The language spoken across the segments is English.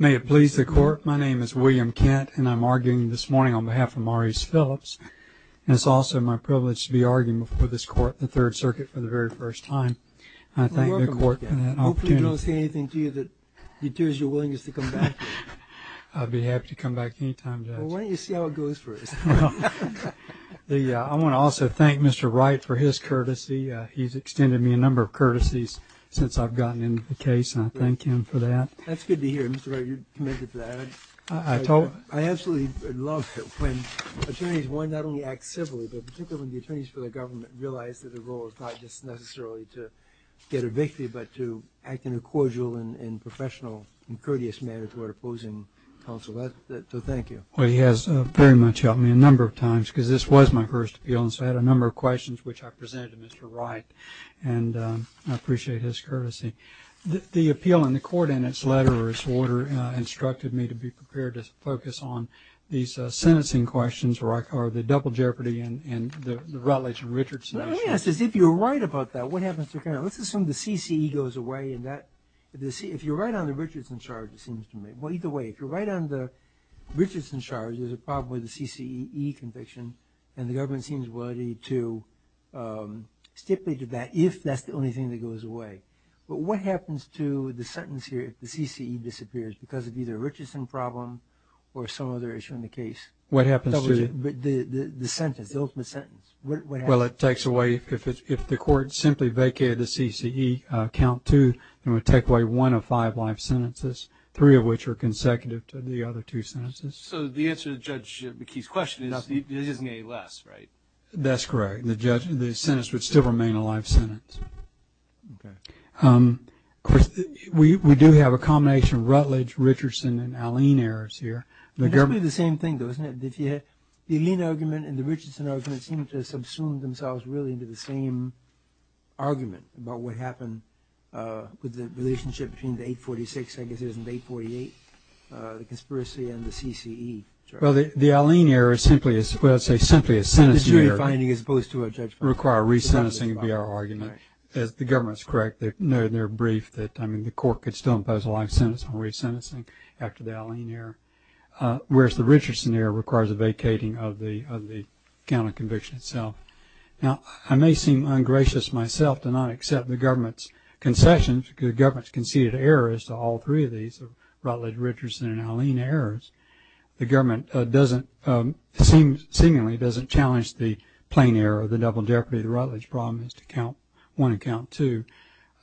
May it please the Court, my name is William Kent and I'm arguing this morning on behalf of Maurice Phillips and it's also my privilege to be arguing before this Court in the Third Circuit for the very first time. I thank the Court for that opportunity. Hopefully we don't say anything to you that deters your willingness to come back here. I'd be happy to come back any time, Judge. Well, why don't you see how it goes first? I want to also thank Mr. Wright for his courtesy. He's extended me a number of courtesies since I've gotten into the case and I thank him for that. That's good to hear, Mr. Wright. You're committed to that. I absolutely love it when attorneys, one, not only act civilly, but particularly when the attorneys for the government realize that their role is not just necessarily to get evicted, but to act in a cordial and professional and courteous manner toward opposing counsel. So thank you. Well, he has very much helped me a number of times because this was my first appeal and so I had a and I appreciate his courtesy. The appeal in the Court in its letter or its order instructed me to be prepared to focus on these sentencing questions or the double jeopardy and the Rutledge and Richardson issues. Let me ask this. If you're right about that, what happens to kind of, let's assume the CCE goes away and that, if you're right on the Richardson charge, it seems to me, well, either way, if you're right on the Richardson charge, there's a problem with the CCE conviction and the government seems to be willing to stipulate that if that's the only thing that goes away. But what happens to the sentence here if the CCE disappears because of either a Richardson problem or some other issue in the case? What happens to it? The sentence, the ultimate sentence. What happens? Well, it takes away, if the Court simply vacated the CCE, count two, it would take away one of five life sentences, three of which are consecutive to the other two sentences. So the answer to Judge McKee's question is there isn't any less, right? That's correct. The sentence would still remain a life sentence. Okay. Of course, we do have a combination of Rutledge, Richardson, and Alleyne errors here. It must be the same thing, though, isn't it? The Alleyne argument and the Richardson argument seem to subsume themselves really into the same argument about what happened with the relationship between the 846, I guess it is, and the 848, the conspiracy and the CCE charge. Well, the Alleyne error is simply, well, I'd say simply a sentencing error. As opposed to a judgment. Require re-sentencing would be our argument. As the government's correct, no, they're briefed that, I mean, the Court could still impose a life sentence on re-sentencing after the Alleyne error, whereas the Richardson error requires a vacating of the count of conviction itself. Now, I may seem ungracious myself to not accept the government's concessions, the government's conceded errors to all three of these, Rutledge, Richardson, and Alleyne errors. The government doesn't, seemingly, doesn't challenge the plain error, the double jeopardy of the Rutledge problem is to count one and count two.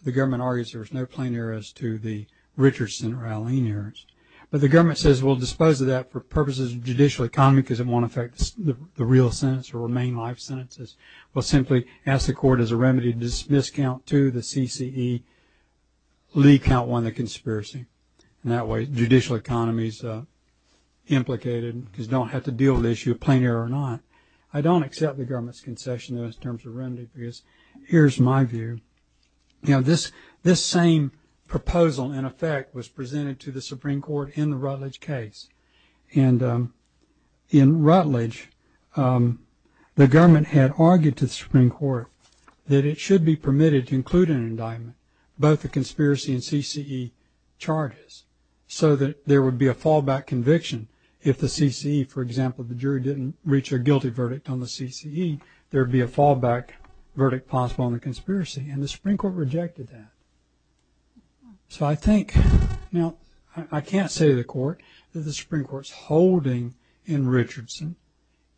The government argues there's no plain error as to the Richardson or Alleyne errors. But the government says we'll dispose of that for purposes of judicial economy because it won't affect the real sentence or remain life sentences. We'll simply ask the Court as a remedy to dismiss count two, the CCE, Lee count one, the conspiracy. And that way, judicial economy's implicated because you don't have to deal with the issue of plain error or not. I don't accept the government's concession, though, in terms of remedy because here's my view. You know, this same proposal, in effect, was presented to the Supreme Court in the Rutledge case. And in Rutledge, the government had argued to the Supreme Court that it should be permitted to include in an indictment both the conspiracy and CCE charges so that there would be a fallback conviction if the CCE, for example, the jury didn't reach a guilty verdict on the CCE, there'd be a fallback verdict possible on the conspiracy. And the Supreme Court rejected that. So I think, now, I can't say to the Court that the Supreme Court's holding in Richardson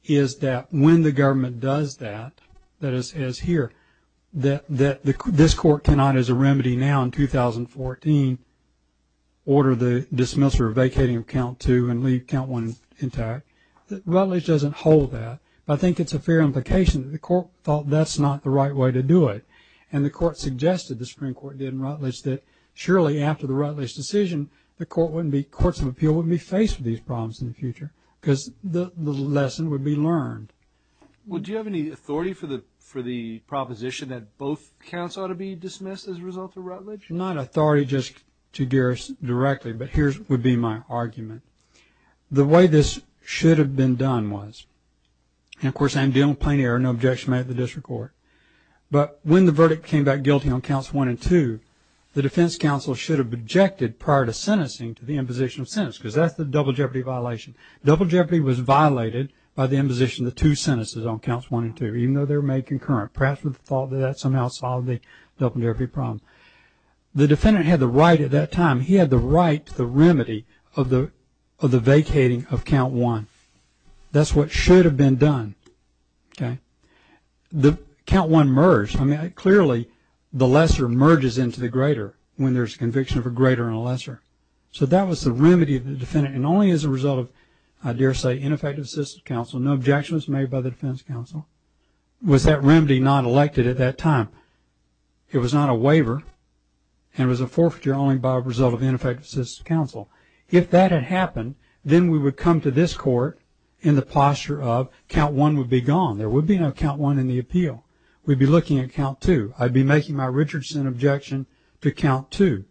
is that when the government does that, that is here, that this Court cannot, as a remedy now in 2014, order the dismissal or vacating of count two and leave count one intact. Rutledge doesn't hold that. But I think it's a fair implication that the Court thought that's not the right way to do it. And the Court suggested, the Supreme Court did in Rutledge, that surely after the Rutledge decision, the courts of appeal wouldn't be faced with these problems in the future. Because the lesson would be learned. Well, do you have any authority for the proposition that both counts ought to be dismissed as a result of Rutledge? Not authority just to Garris directly. But here would be my argument. The way this should have been done was, and of course, I am dealing with plain error, no objection made at the district court. But when the verdict came back guilty on counts one and two, the defense counsel should have objected prior to sentencing to the imposition of sentence. Because that's the double jeopardy violation. Double jeopardy was violated by the imposition of two sentences on counts one and two, even though they were made concurrent. Perhaps with the thought that that somehow solved the double jeopardy problem. The defendant had the right at that time, he had the right to the remedy of the vacating of count one. That's what should have been done. Okay. The count one merged. I mean, clearly, the lesser merges into the greater when there's conviction of a greater and a lesser. So that was the remedy of the defendant and only as a result of, I dare say, ineffective assistance counsel. No objections made by the defense counsel. Was that remedy not elected at that time? It was not a waiver. And it was a forfeiture only by a result of ineffective assistance counsel. If that had happened, then we would come to this court in the posture of count one would be gone. There would be no count one in the appeal. We'd be looking at count two. I'd be making my Richardson objection to count two.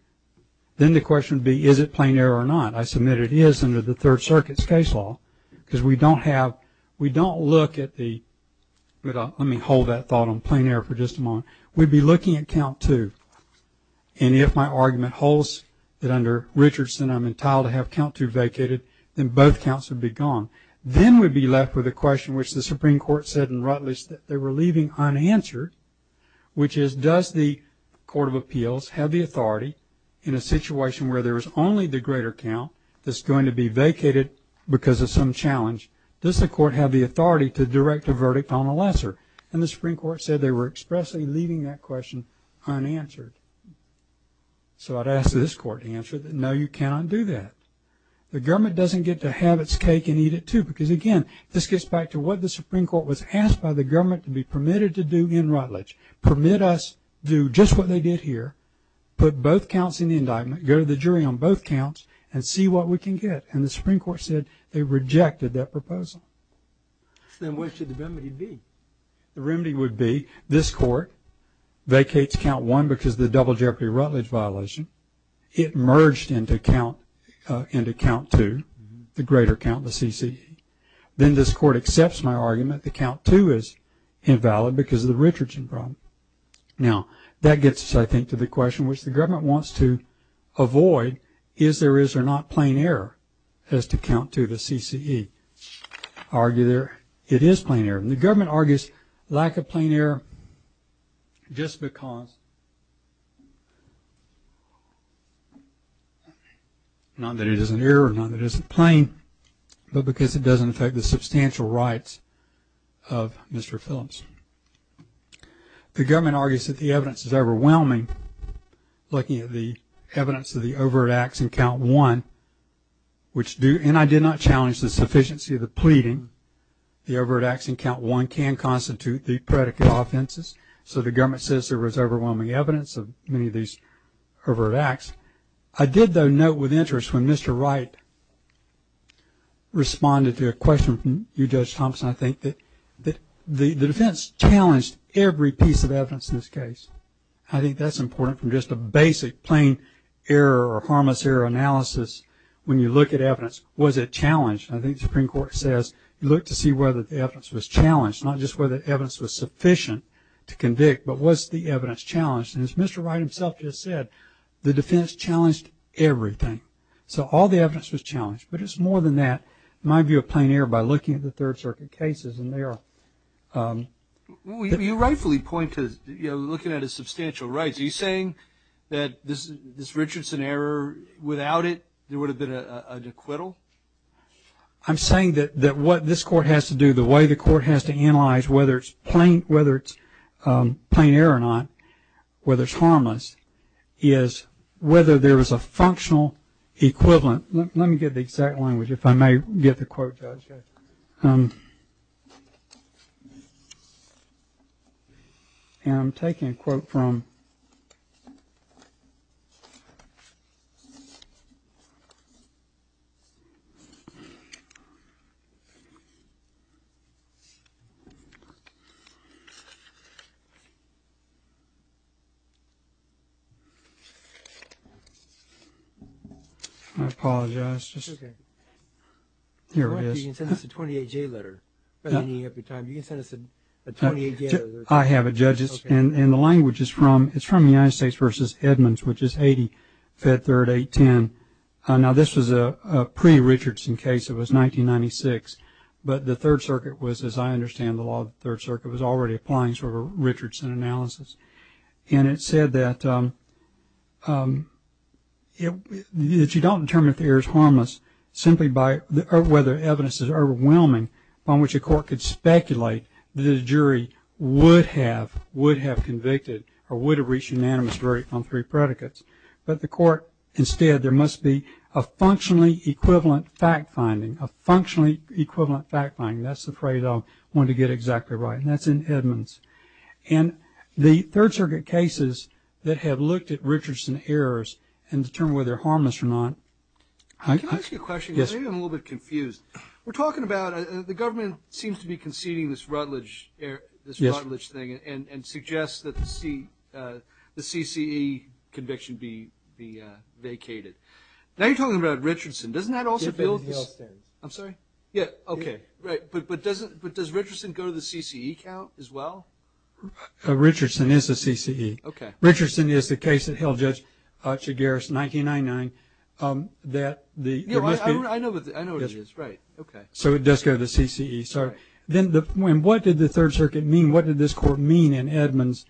Then the question would be, is it plain error or not? I submit it is under the Third Circuit's case law because we don't have, we don't look at the, let me hold that thought on plain error for just a moment. We'd be looking at count two. And if my argument holds that under Richardson, I'm entitled to have count two vacated, then both counts would be gone. Then we'd be left with a question which the Supreme Court said in Rutledge that they were leaving unanswered, which is, does the Court of Appeals have the authority in a situation where there is only the greater count that's going to be vacated because of some challenge? Does the court have the authority to direct a verdict on a lesser? And the Supreme Court said they were expressly leaving that question unanswered. So I'd ask this court to answer that, no, you cannot do that. The government doesn't get to have its cake and eat it too. Because again, this gets back to what the Supreme Court was asked by the government to be permitted to do in Rutledge. Permit us to do just what they did here, put both counts in the indictment, go to the jury on both counts and see what we can get. And the Supreme Court said they rejected that proposal. Then what should the remedy be? The remedy would be this court vacates count one because of the double jeopardy Rutledge violation. It merged into count two, the greater count, the CCE. Then this court accepts my argument. The count two is invalid because of the Richardson problem. Now, that gets us, I think, to the question which the government wants to avoid. Is there is or not plain error as to count to the CCE argue there? It is plain error. And the government argues lack of plain error just because. Not that it is an error, not that it isn't plain, but because it doesn't affect the substantial rights of Mr. Phillips. The government argues that the evidence is overwhelming. Looking at the evidence of the overt acts in count one, which do and I did not challenge the sufficiency of the pleading. The overt acts in count one can constitute the predicate offenses. So the government says there was overwhelming evidence of many of these overt acts. I did, though, note with interest when Mr. Wright responded to a question from you, Judge Thompson, I think that the defense challenged every piece of evidence in this case. I think that's important from just a basic plain error or harmless error analysis. When you look at evidence, was it challenged? I think the Supreme Court says you look to see whether the evidence was challenged, not just whether the evidence was sufficient to convict, but was the evidence challenged? As Mr. Wright himself just said, the defense challenged everything. So all the evidence was challenged. But it's more than that. My view of plain error by looking at the Third Circuit cases and they are. You rightfully point to looking at his substantial rights. Are you saying that this Richardson error, without it, there would have been an acquittal? I'm saying that what this court has to do, the way the court has to analyze whether it's plain error or not, whether it's harmless, is whether there is a functional equivalent. Let me get the exact language, if I may get the quote, Judge. And I'm taking a quote from. I apologize. Here it is. You can send us a 28-J letter. I have it, Judge, and the language is from the United States v. Edmonds, which is 80 Fed Third 810. Now, this was a pre-Richardson case. It was 1996. But the Third Circuit was, as I understand the law of the Third Circuit, was already applying sort of a Richardson analysis. And it said that you don't determine if the error is harmless simply by whether evidence is overwhelming on which a court could speculate that a jury would have convicted or would have reached unanimous verdict on three predicates. But the court, instead, there must be a functionally equivalent fact finding. A functionally equivalent fact finding. That's the phrase I wanted to get exactly right. That's in Edmonds. And the Third Circuit cases that have looked at Richardson errors and determined whether they're harmless or not. Can I ask you a question? Yes. Maybe I'm a little bit confused. We're talking about the government seems to be conceding this Rutledge thing and suggests that the CCE conviction be vacated. Now, you're talking about Richardson. Doesn't that also build? I'm sorry? Yeah. OK. Right. But does Richardson go to the CCE count as well? Richardson is a CCE. OK. Richardson is the case that held Judge Chigaris 1999 that the- Yeah, I know what it is. Right. OK. So it does go to the CCE. Sorry. Then what did the Third Circuit mean? What did this court mean in Edmonds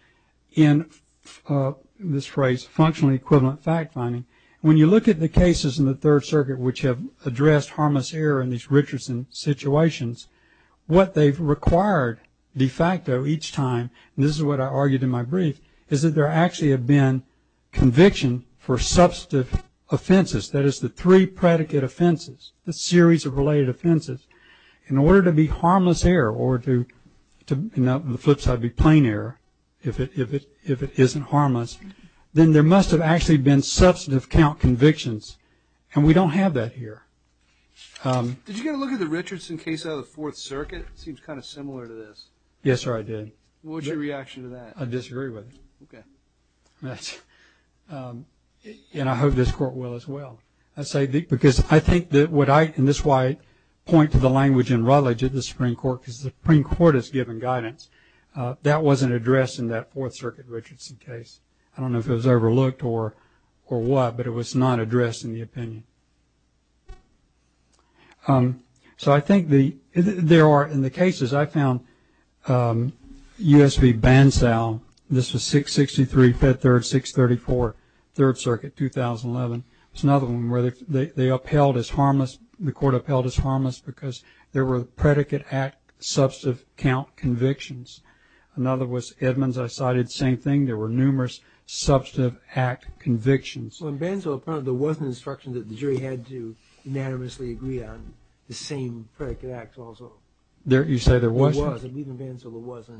in this phrase, functionally equivalent fact finding? When you look at the cases in the Third Circuit which have addressed harmless error in these what they've required de facto each time, and this is what I argued in my brief, is that there actually have been conviction for substantive offenses. That is the three predicate offenses, the series of related offenses. In order to be harmless error or to flip side be plain error, if it isn't harmless, then there must have actually been substantive count convictions. And we don't have that here. Did you get a look at the Richardson case out of the Fourth Circuit? It seems kind of similar to this. Yes, sir, I did. What was your reaction to that? I disagree with it. OK. And I hope this court will as well. I say because I think that what I, and this is why I point to the language in Rutledge at the Supreme Court because the Supreme Court has given guidance. That wasn't addressed in that Fourth Circuit Richardson case. I don't know if it was overlooked or what, but it was not addressed in the opinion. So I think there are, in the cases I found, U.S. v. Bansal, this was 663, Fifth Third, 634, Third Circuit, 2011. It's another one where they upheld as harmless, the court upheld as harmless because there were predicate act substantive count convictions. Another was Edmonds. I cited the same thing. There were numerous substantive act convictions. In Bansal, there was an instruction that the jury had to unanimously agree on the same predicate act also. You say there was? There was. I believe in Bansal there was.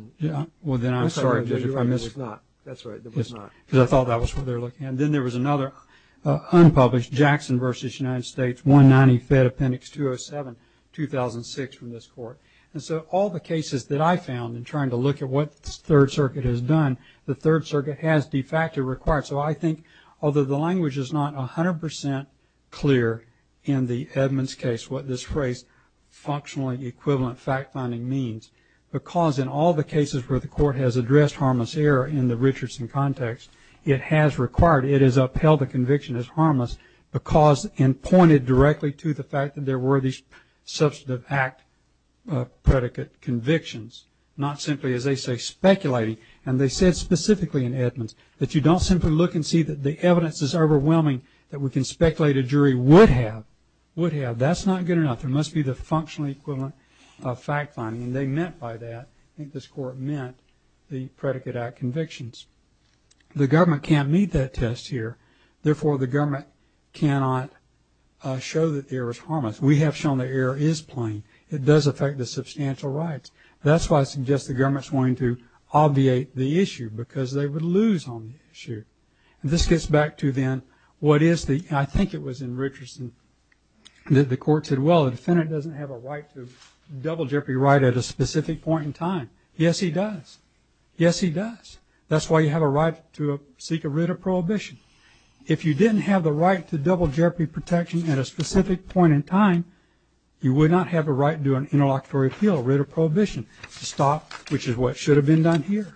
Well, then I'm sorry. You're right, there was not. That's right, there was not. Because I thought that was what they were looking at. And then there was another unpublished, Jackson v. United States, 190 Fed Appendix 207, 2006, from this court. And so all the cases that I found in trying to look at what the Third Circuit has done, the Third Circuit has de facto required. So I think, although the language is not 100% clear in the Edmonds case, what this phrase, functionally equivalent fact finding means, because in all the cases where the court has addressed harmless error in the Richardson context, it has required, it has upheld the conviction as harmless because, and pointed directly to the fact that there were these substantive act predicate convictions. Not simply, as they say, speculating. And they said specifically in Edmonds, that you don't simply look and see that the evidence is overwhelming, that we can speculate a jury would have, would have. That's not good enough. There must be the functionally equivalent fact finding. And they meant by that, I think this court meant, the predicate act convictions. The government can't meet that test here. Therefore, the government cannot show that errors harm us. We have shown that error is plain. It does affect the substantial rights. That's why I suggest the government's going to obviate the issue. Because they would lose on the issue. And this gets back to then, what is the, I think it was in Richardson, that the court said, well, the defendant doesn't have a right to double jeopardy right at a specific point in time. Yes, he does. Yes, he does. That's why you have a right to seek a writ of prohibition. If you didn't have the right to double jeopardy protection at a specific point in time, you would not have a right to an interlocutory appeal, a writ of prohibition to stop, which is what should have been done here.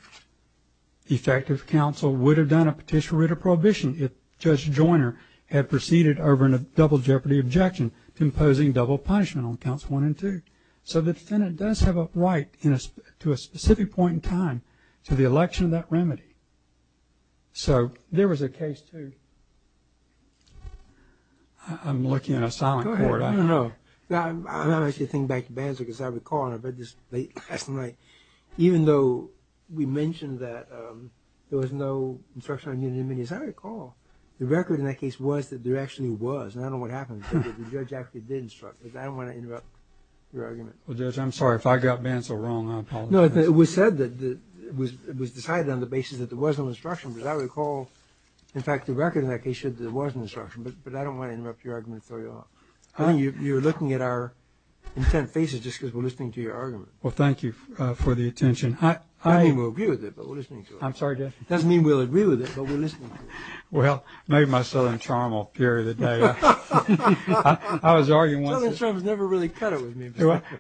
The effective counsel would have done a petition writ of prohibition if Judge Joyner had proceeded over a double jeopardy objection, imposing double punishment on counts one and two. So the defendant does have a right in a, to a specific point in time to the election of that remedy. So there was a case too. I'm looking at a silent court. I don't know. Now, I should think back to Bantzler, because I recall, and I read this late last night, even though we mentioned that there was no instruction on unanimity, as I recall, the record in that case was that there actually was. And I don't know what happened, but the judge actually did instruct, but I don't want to interrupt your argument. Well, Judge, I'm sorry if I got Bantzler wrong. I apologize. No, it was said that, it was decided on the basis that there was no instruction, because I recall, in fact, the record in that case showed that there was an instruction, but I don't want to interrupt your argument and throw you off. I think you're looking at our intent faces just because we're listening to your argument. Well, thank you for the attention. I, I... Doesn't mean we'll agree with it, but we're listening to it. I'm sorry, Judge. Doesn't mean we'll agree with it, but we're listening to it. Well, maybe my Southern charm will appear today. I was arguing once... Southern charm has never really cut it with me.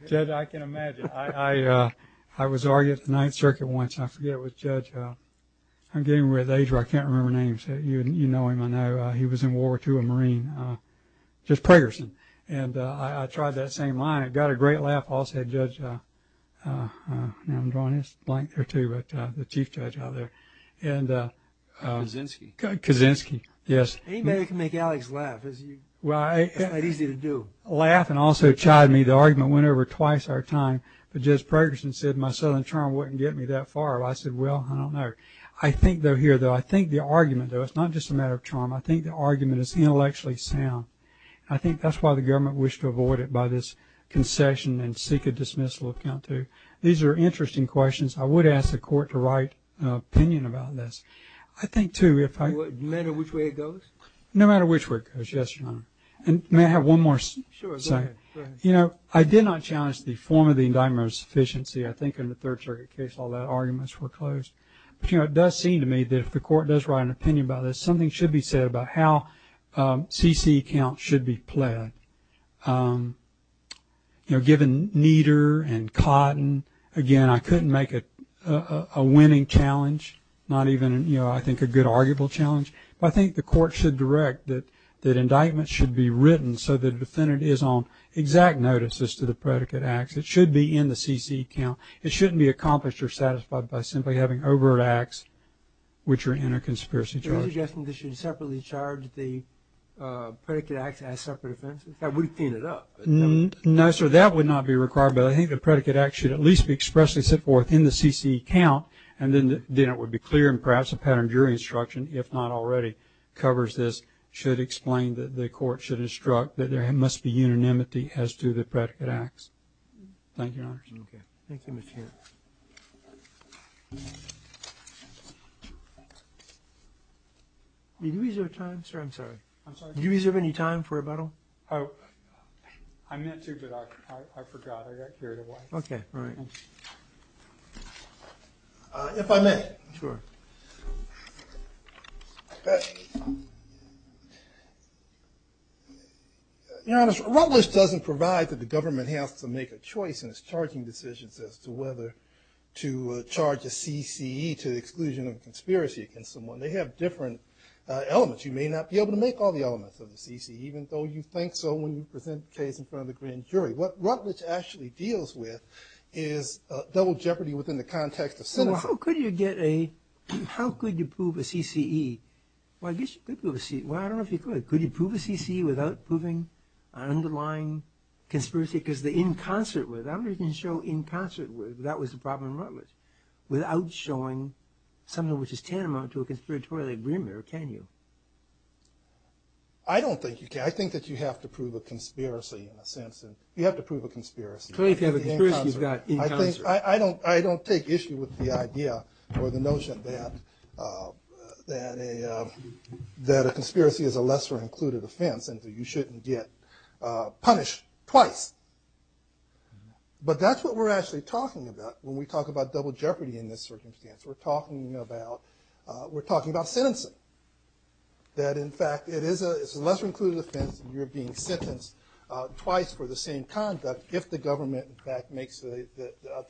Judge, I can imagine. I, I, I was arguing at the Ninth Circuit once. I forget which judge. I'm getting to the age where I can't remember names. You, you know him, I know. He was in World War II, a Marine. Judge Pragerson. And I, I tried that same line. It got a great laugh. I also had Judge, now I'm drawing this blank there too, but the Chief Judge out there. And... Kaczynski. Kaczynski. Yes. Anybody can make Alex laugh. It's not easy to do. Laugh and also chide me. The argument went over twice our time. But Judge Pragerson said my Southern charm wouldn't get me that far. I said, well, I don't know. I think, though, here, though, I think the argument, though, it's not just a matter of sound. I think that's why the government wished to avoid it by this concession and seek a dismissal account too. These are interesting questions. I would ask the court to write an opinion about this. I think, too, if I... No matter which way it goes? No matter which way it goes, yes, Your Honor. And may I have one more second? Sure, go ahead. You know, I did not challenge the form of the indictment of insufficiency. I think in the Third Circuit case, all the arguments were closed. But, you know, it does seem to me that if the court does write an opinion about this, something should be said about how C.C. accounts should be pled. You know, given Nieder and Cotton, again, I couldn't make it a winning challenge, not even, you know, I think a good arguable challenge. But I think the court should direct that indictments should be written so the defendant is on exact notices to the predicate acts. It should be in the C.C. account. It shouldn't be accomplished or satisfied by simply having overt acts which are in a conspiracy charge. Are you suggesting they should separately charge the predicate acts as separate offenses? That would clean it up. No, sir, that would not be required. But I think the predicate act should at least be expressly set forth in the C.C. account. And then it would be clear. And perhaps a pattern jury instruction, if not already, covers this, should explain that the court should instruct that there must be unanimity as to the predicate acts. Thank you, Your Honor. Okay. Thank you, Mr. Henn. Did you reserve time, sir? I'm sorry. I'm sorry. Did you reserve any time for rebuttal? Oh, I meant to, but I forgot. I got carried away. Okay. All right. If I may. Sure. Your Honor, Rutledge doesn't provide that the government has to make a choice in its charging decisions as to whether to charge a C.C.E. to the exclusion of conspiracy against someone. They have different elements. You may not be able to make all the elements of the C.C.E., even though you think so when you present the case in front of the grand jury. What Rutledge actually deals with is double jeopardy within the context of cynicism. Well, how could you get a, how could you prove a C.C.E.? Well, I guess you could prove a C.C.E. Well, I don't know if you could. Could you prove a C.C.E. without proving an underlying conspiracy? Because the in concert with, I wonder if you can show in concert with, that was the without showing something which is tantamount to a conspiratorial agreement, or can you? I don't think you can. I think that you have to prove a conspiracy in a sense. You have to prove a conspiracy. Clearly, if you have a conspiracy, you've got in concert. I don't take issue with the idea or the notion that a conspiracy is a lesser included offense and that you shouldn't get punished twice. But that's what we're actually talking about when we talk about double jeopardy in this circumstance. We're talking about, we're talking about sentencing. That in fact, it is a lesser included offense and you're being sentenced twice for the same conduct if the government in fact makes the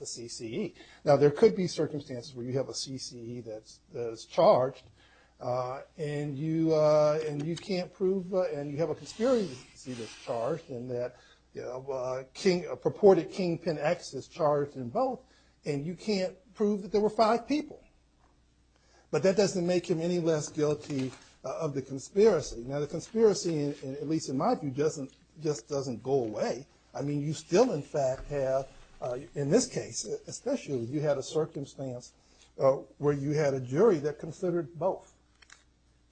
C.C.E. Now, there could be circumstances where you have a C.C.E. that is charged and you can't prove, and you have a conspiracy that's charged and that, you know, King, purported Kingpin X is charged in both and you can't prove that there were five people. But that doesn't make him any less guilty of the conspiracy. Now, the conspiracy, at least in my view, doesn't, just doesn't go away. I mean, you still in fact have, in this case, especially if you had a circumstance where you had a jury that considered both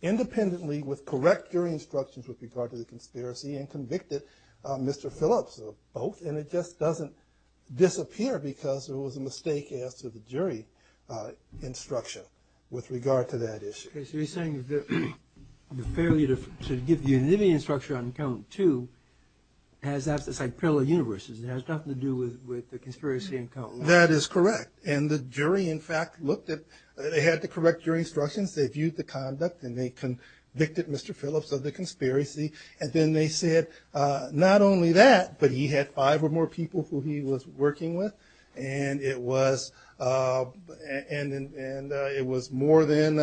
independently with correct jury instructions with regard to the conspiracy and convicted Mr. Phillips of both. And it just doesn't disappear because there was a mistake as to the jury instruction with regard to that issue. Okay, so you're saying that the failure to give the individual instruction on count two has, as I said, parallel universes. It has nothing to do with the conspiracy in count one. That is correct. And the jury in fact looked at, they had the correct jury instructions. They viewed the conduct and they convicted Mr. Phillips of the conspiracy. And then they said, not only that, but he had five or more people who he was working with. And it was, and it was more than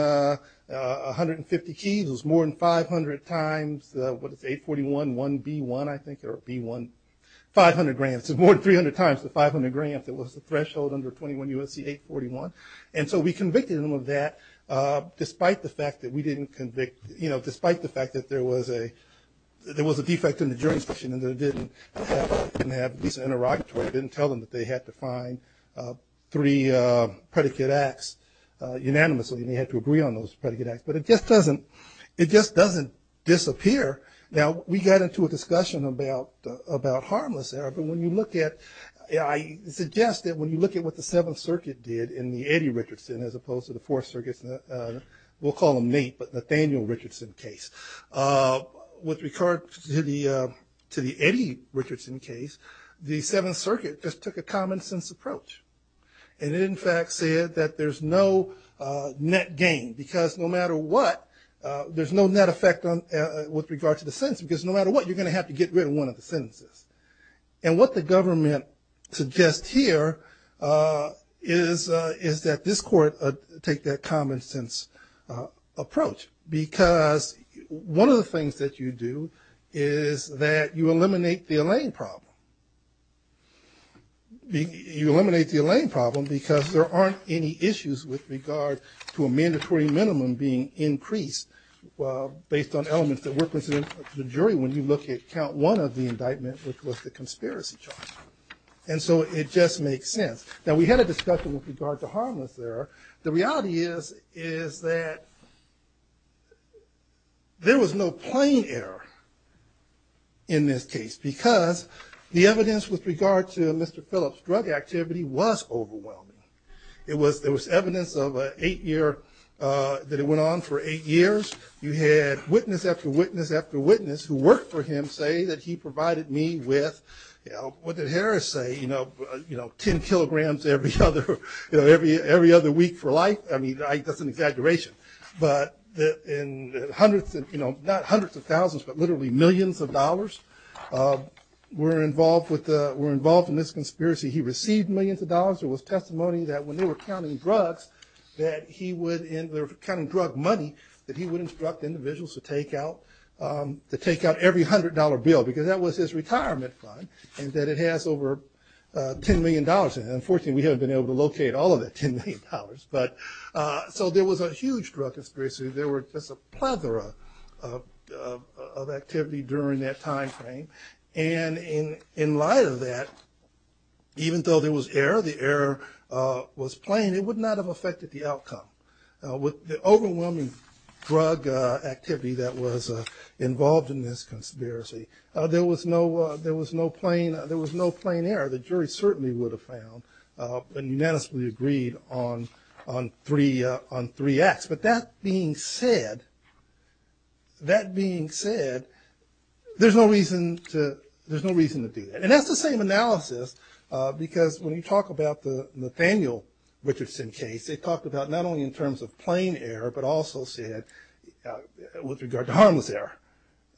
150 keys. It was more than 500 times, what is it, 841, 1B1, I think, or B1, 500 grams. It was more than 300 times the 500 grams that was the threshold under 21 U.S.C. 841. And so we convicted him of that despite the fact that we didn't convict, you know, despite the fact that there was a, there was a defect in the jury instruction and they didn't have, didn't have a decent interrogatory, didn't tell them that they had to find three predicate acts unanimously and they had to agree on those predicate acts. But it just doesn't, it just doesn't disappear. Now we got into a discussion about, about harmless error. But when you look at, I suggest that when you look at what the Seventh Circuit did in the Eddie Richardson as opposed to the Fourth Circuit's, we'll call him Nate, but Nathaniel Richardson case, with regard to the, to the Eddie Richardson case, the Seventh Circuit just took a common sense approach. And it in fact said that there's no net gain because no matter what, there's no net effect on, with regard to the sentence because no matter what, you're going to have to get rid of one of the sentences. And what the government suggests here is, is that this court take that common sense approach because one of the things that you do is that you eliminate the Elaine problem. You eliminate the Elaine problem because there aren't any issues with regard to a mandatory minimum being increased based on elements that work with the jury when you look at count one of the indictments, which was the conspiracy charge. And so it just makes sense. Now we had a discussion with regard to harmless error. The reality is, is that there was no plain error in this case because the evidence with regard to Mr. Phillips' drug activity was overwhelming. It was, there was evidence of a eight year, that it went on for eight years. You had witness after witness after witness who worked for him say that he provided me with, what did Harris say, 10 kilograms every other week for life. I mean, that's an exaggeration. But in hundreds, not hundreds of thousands, but literally millions of dollars were involved with, were involved in this conspiracy. He received millions of dollars. There was testimony that when they were counting drugs, that he would, they were counting drug money that he would instruct individuals to take out, to take out every hundred dollar bill because that was his retirement fund and that it has over $10 million in it. Unfortunately, we haven't been able to locate all of that $10 million, but so there was a huge drug conspiracy. There were just a plethora of activity during that timeframe. And in light of that, even though there was error, the error was plain, it would not have affected the outcome. With the overwhelming drug activity that was involved in this conspiracy, there was no, there was no plain, there was no plain error. The jury certainly would have found and unanimously agreed on, on three, on three acts. But that being said, that being said, there's no reason to, there's no reason to do that. And that's the same analysis because when you talk about the Nathaniel Richardson case, they talked about not only in terms of plain error, but also said with regard to harmless error,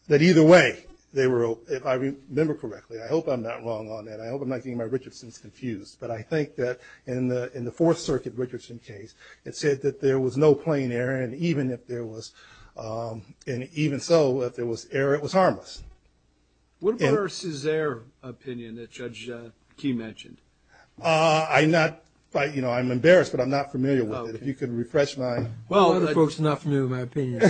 that either way they were, if I remember correctly, I hope I'm not wrong on that. I hope I'm not getting my Richardson's confused. But I think that in the, in the Fourth Circuit Richardson case, it said that there was no plain error. And even if there was, and even so, if there was error, it was harmless. What about our Césaire opinion that Judge Key mentioned? I'm not, you know, I'm embarrassed, but I'm not familiar with it. If you could refresh my. Well, folks are not familiar with my opinion.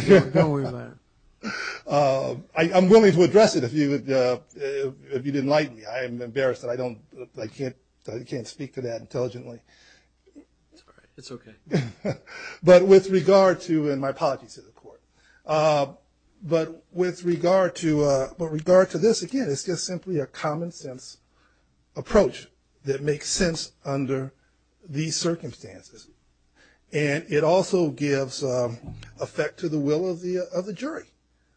I'm willing to address it if you would, if you didn't like me. I'm embarrassed that I don't, I can't, I can't speak to that intelligently. It's okay. But with regard to, and my apologies to the court. But with regard to, but regard to this, again, it's just simply a common sense approach. That makes sense under these circumstances. And it also gives effect to the will of the, of the jury,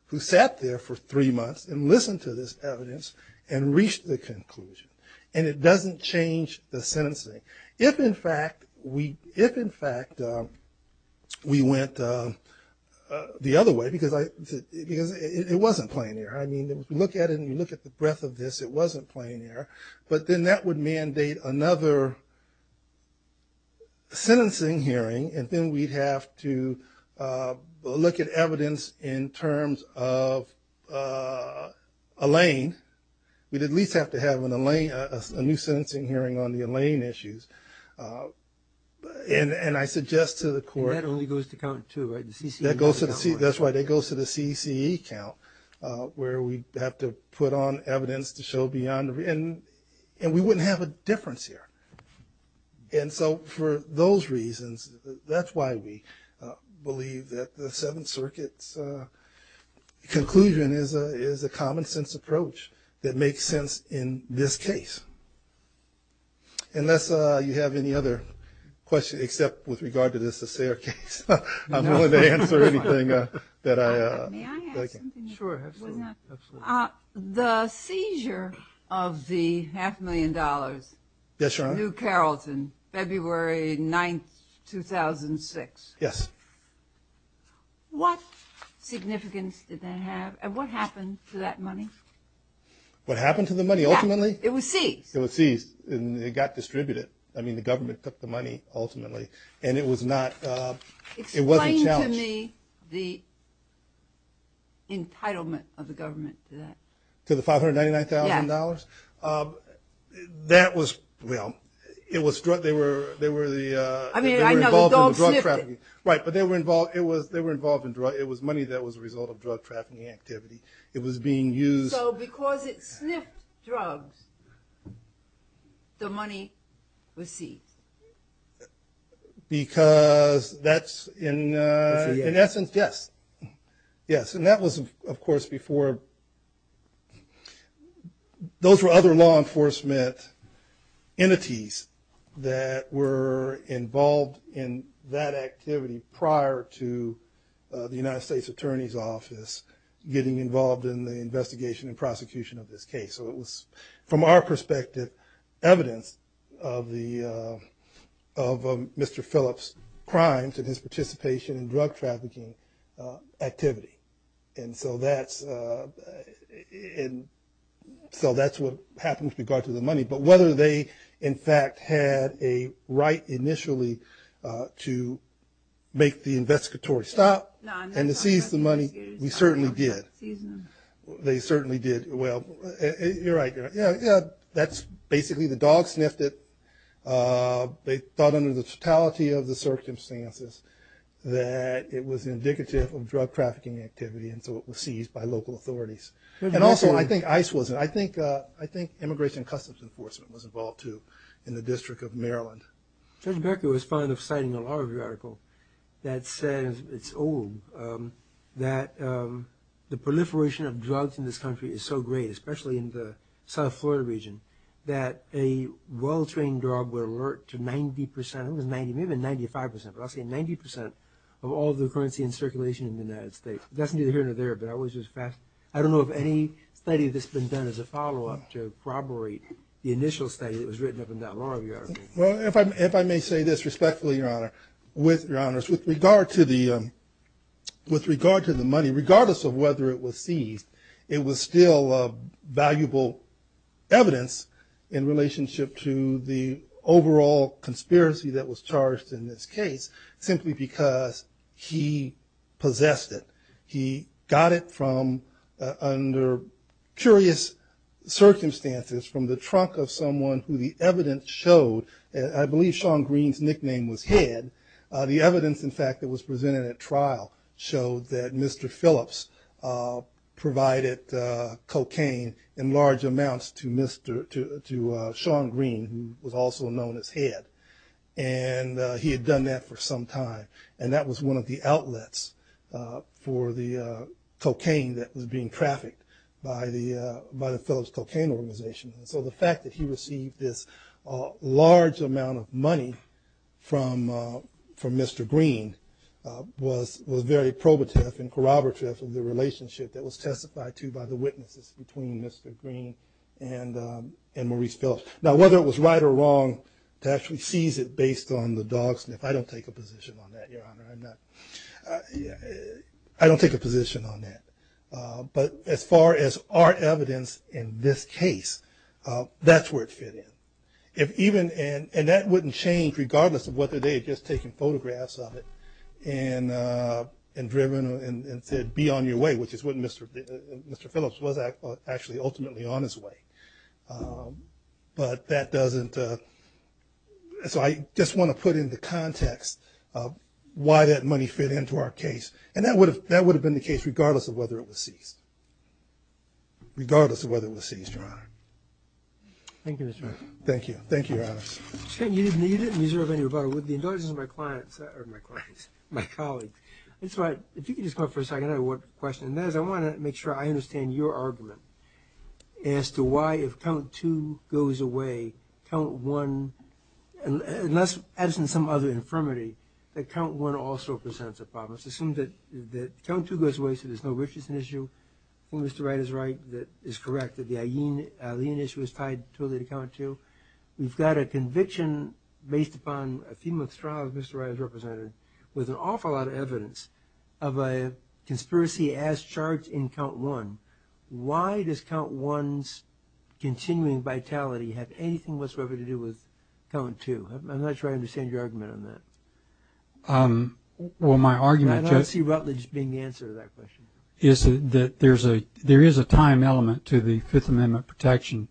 who sat there for three months and listened to this evidence and reached the conclusion. And it doesn't change the sentencing. If, in fact, we, if, in fact, we went the other way, because I, because it wasn't plain error. I mean, if you look at it and you look at the breadth of this, it wasn't plain error. But then that would mandate another sentencing hearing. And then we'd have to look at evidence in terms of Alain. We'd at least have to have an Alain, a new sentencing hearing on the Alain issues. And, and I suggest to the court. And that only goes to count two, right? The CCE. That goes to the C, that's why that goes to the CCE count, where we have to put on evidence to show beyond. And, and we wouldn't have a difference here. And so for those reasons, that's why we believe that the Seventh Circuit's conclusion is a, is a common sense approach that makes sense in this case. Unless you have any other questions, except with regard to this Assayer case, I'm willing to answer anything that I. May I ask something? Sure, absolutely, absolutely. The seizure of the half million dollars. Yes, Your Honor. New Carrollton, February 9th, 2006. Yes. What significance did that have? And what happened to that money? What happened to the money ultimately? It was seized. It was seized and it got distributed. I mean, the government took the money ultimately. And it was not, it wasn't challenged. To me, the entitlement of the government to that. To the $599,000? Yes. That was, well, it was drug, they were, they were the. I mean, I know, the dog sniffed it. Right, but they were involved, it was, they were involved in drug, it was money that was a result of drug trafficking activity. It was being used. So because it sniffed drugs, the money was seized? Because that's in, in essence, yes, yes. And that was, of course, before, those were other law enforcement entities that were involved in that activity prior to the United States Attorney's Office getting involved in the investigation and prosecution of this case. So it was, from our perspective, evidence of the, of Mr. Phillips' crimes and his participation in drug trafficking activity. And so that's, so that's what happened with regard to the money. But whether they, in fact, had a right initially to make the investigatory stop and to seize the money, we certainly did. They certainly did. Well, you're right, you're right. Yeah, yeah, that's basically the dog sniffed it. They thought under the totality of the circumstances that it was indicative of drug trafficking activity, and so it was seized by local authorities. And also, I think ICE wasn't. I think, I think Immigration and Customs Enforcement was involved, too, in the District of Maryland. Judge Becker was fond of citing a law review article that says, it's old, that the proliferation of drugs in this country is so great, especially in the South Florida region, that a well-trained drug would alert to 90 percent, I think it was 90, maybe 95 percent, but I'll say 90 percent of all the currency in circulation in the United States. That's neither here nor there, but I was just fascinated. I don't know of any study that's been done as a follow-up to corroborate the initial study that was written up in that law review article. Well, if I may say this respectfully, Your Honor, with, Your Honors, with regard to the, with regard to the money, regardless of whether it was seized, it was still valuable evidence in relationship to the overall conspiracy that was charged in this case, simply because he possessed it. He got it from, under curious circumstances, from the trunk of someone who the evidence showed, I believe Sean Green's nickname was Head. The evidence, in fact, that was presented at trial showed that Mr. Phillips provided cocaine in large amounts to Mr., to Sean Green, who was also known as Head, and he had done that for some time, and that was one of the outlets for the cocaine that was being trafficked by the, by the Phillips Cocaine Organization. So the fact that he received this large amount of money from, from Mr. Green was, was very probative and corroborative of the relationship that was testified to by the witnesses between Mr. Green and, and Maurice Phillips. Now, whether it was right or wrong to actually seize it based on the dog sniff, I don't take a position on that, Your Honor. I'm not, I don't take a position on that. But as far as our evidence in this case, that's where it fit in. If even, and that wouldn't change regardless of whether they had just taken photographs of it and, and driven and said, be on your way, which is what Mr., Mr. Phillips was actually ultimately on his way. But that doesn't, so I just want to put into context why that money fit into our case, and that would have, that would have been the case regardless of whether it was seized, regardless of whether it was seized, Your Honor. Thank you, Mr. Green. Thank you. Thank you, Your Honor. Mr. Green, you didn't, you didn't reserve any rebuttal. With the indulgence of my clients, or my clients, my colleagues. That's why, if you could just come up for a second, I have one question. And that is, I want to make sure I understand your argument as to why if count two goes away, count one, unless, as in some other infirmity, that count one also presents a problem, it's assumed that, that count two goes away, so there's no Richardson issue, Mr. Wright is right, that is correct, that the Eileen, Eileen issue is tied totally to count two. We've got a conviction based upon a few months trial that Mr. Wright has represented, with an awful lot of evidence of a conspiracy as charged in count one. Why does count one's continuing vitality have anything whatsoever to do with count two? I'm not sure I understand your argument on that. Um, well, my argument. I don't see Rutledge being the answer to that question. Is that there's a, there is a time element to the Fifth Amendment protection,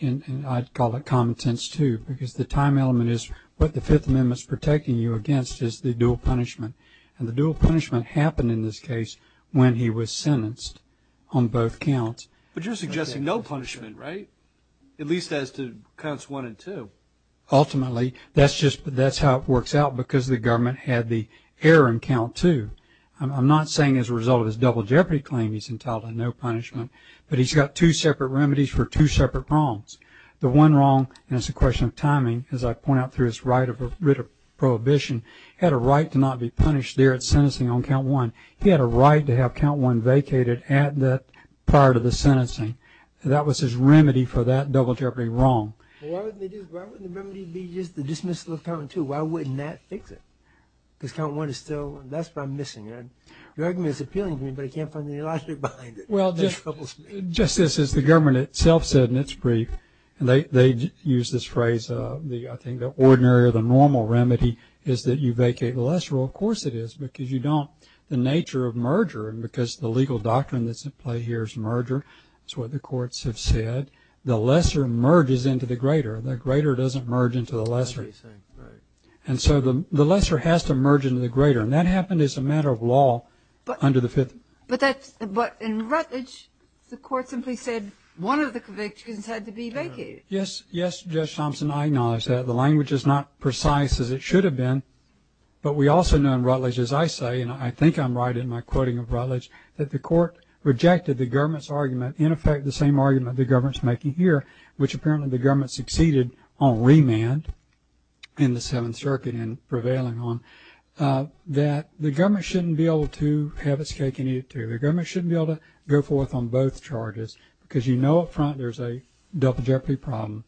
and I'd call it common sense too, because the time element is what the Fifth Amendment's protecting you against is the dual punishment. And the dual punishment happened in this case when he was sentenced on both counts. But you're suggesting no punishment, right? At least as to counts one and two. Ultimately, that's just, that's how it works out, because the government had the error in count two. I'm not saying as a result of his double jeopardy claim he's entitled to no punishment, but he's got two separate remedies for two separate wrongs. The one wrong, and it's a question of timing, as I point out through his right of writ of prohibition, had a right to not be punished there at sentencing on count one. He had a right to have count one vacated at that, prior to the sentencing. That was his remedy for that double jeopardy wrong. Well, why wouldn't the remedy be just the dismissal of count two? Why wouldn't that fix it? Because count one is still, that's what I'm missing. Your argument is appealing to me, but I can't find the logic behind it. Well, just as the government itself said in its brief, and they use this phrase, I think the ordinary or the normal remedy is that you vacate the lesser rule. Of course it is, because you don't, the nature of merger, and because the legal doctrine that's at play here is merger, it's what the courts have said. The lesser merges into the greater. The greater doesn't merge into the lesser. That's what he's saying, right. And so the lesser has to merge into the greater, and that happened as a matter of law under the Fifth. But in Rutledge, the court simply said one of the convictions had to be vacated. Yes, Judge Thompson, I acknowledge that. The language is not precise as it should have been, but we also know in Rutledge, as I say, and I think I'm right in my quoting of Rutledge, that the court rejected the government's decision-making here, which apparently the government succeeded on remand in the Seventh Circuit and prevailing on, that the government shouldn't be able to have its cake and eat it too. The government shouldn't be able to go forth on both charges, because you know up front there's a double jeopardy problem.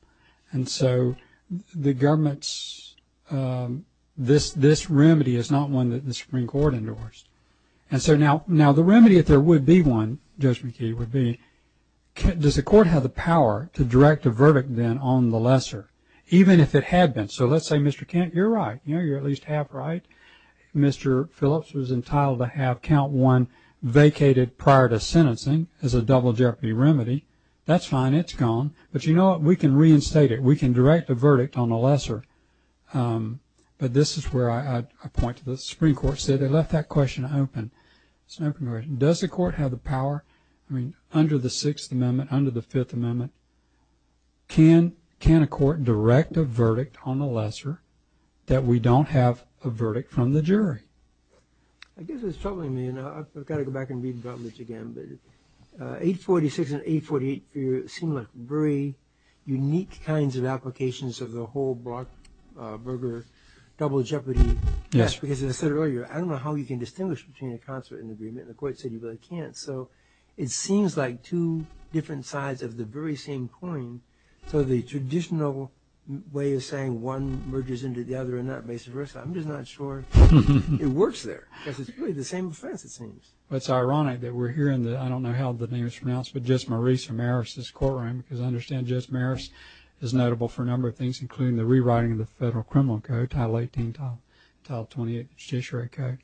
And so the government's, this remedy is not one that the Supreme Court endorsed. And so now the remedy, if there would be one, Judge McKee, would be, does the court have the power to direct a verdict then on the lesser, even if it had been? So let's say, Mr. Kent, you're right. You're at least half right. Mr. Phillips was entitled to have count one vacated prior to sentencing as a double jeopardy remedy. That's fine. It's gone. But you know what? We can reinstate it. We can direct a verdict on the lesser. But this is where I point to the Supreme Court said they left that question open. Does the court have the power, I mean, under the Sixth Amendment, under the Fifth Amendment, can a court direct a verdict on the lesser that we don't have a verdict from the jury? I guess what's troubling me, and I've got to go back and read Brutlidge again, but 846 and 848 seem like very unique kinds of applications of the whole Brock Berger double jeopardy. Yes. Because as I said earlier, I don't know how you can distinguish between a concert and agreement. The court said you really can't. It seems like two different sides of the very same coin. So the traditional way of saying one merges into the other and that makes it worse. I'm just not sure it works there. Because it's really the same offense, it seems. It's ironic that we're hearing that. I don't know how the name is pronounced, but just Marissa Maris's courtroom, because I understand Judge Maris is notable for a number of things, including the rewriting of the Federal Criminal Code, Title 18, Title 28, Judiciary Code.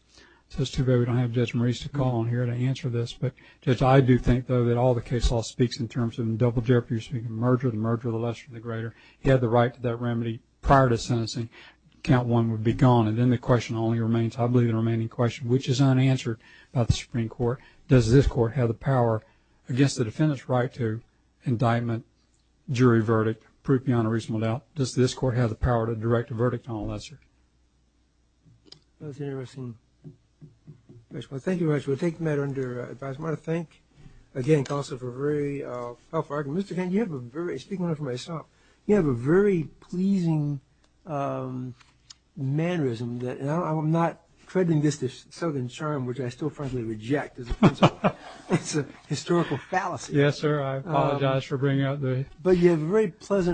So it's too bad we don't have Judge Maris to call on here to answer this. But Judge, I do think, though, that all the case law speaks in terms of double jeopardy. You're speaking of merger, the merger of the lesser and the greater. He had the right to that remedy prior to sentencing. Count one would be gone. And then the question only remains, I believe, the remaining question, which is unanswered by the Supreme Court. Does this court have the power against the defendant's right to indictment, jury verdict, prove beyond a reasonable doubt? Does this court have the power to direct a verdict on a lesser? That's an interesting question. Well, thank you very much. We'll take the matter under advice. I want to thank, again, counsel for a very helpful argument. Mr. Kent, you have a very, speaking for myself, you have a very pleasing mannerism that, and I'm not crediting this to slogan charm, which I still frankly reject as a principle. It's a historical fallacy. Yes, sir. I apologize for bringing out the- But you have a very pleasant mannerism.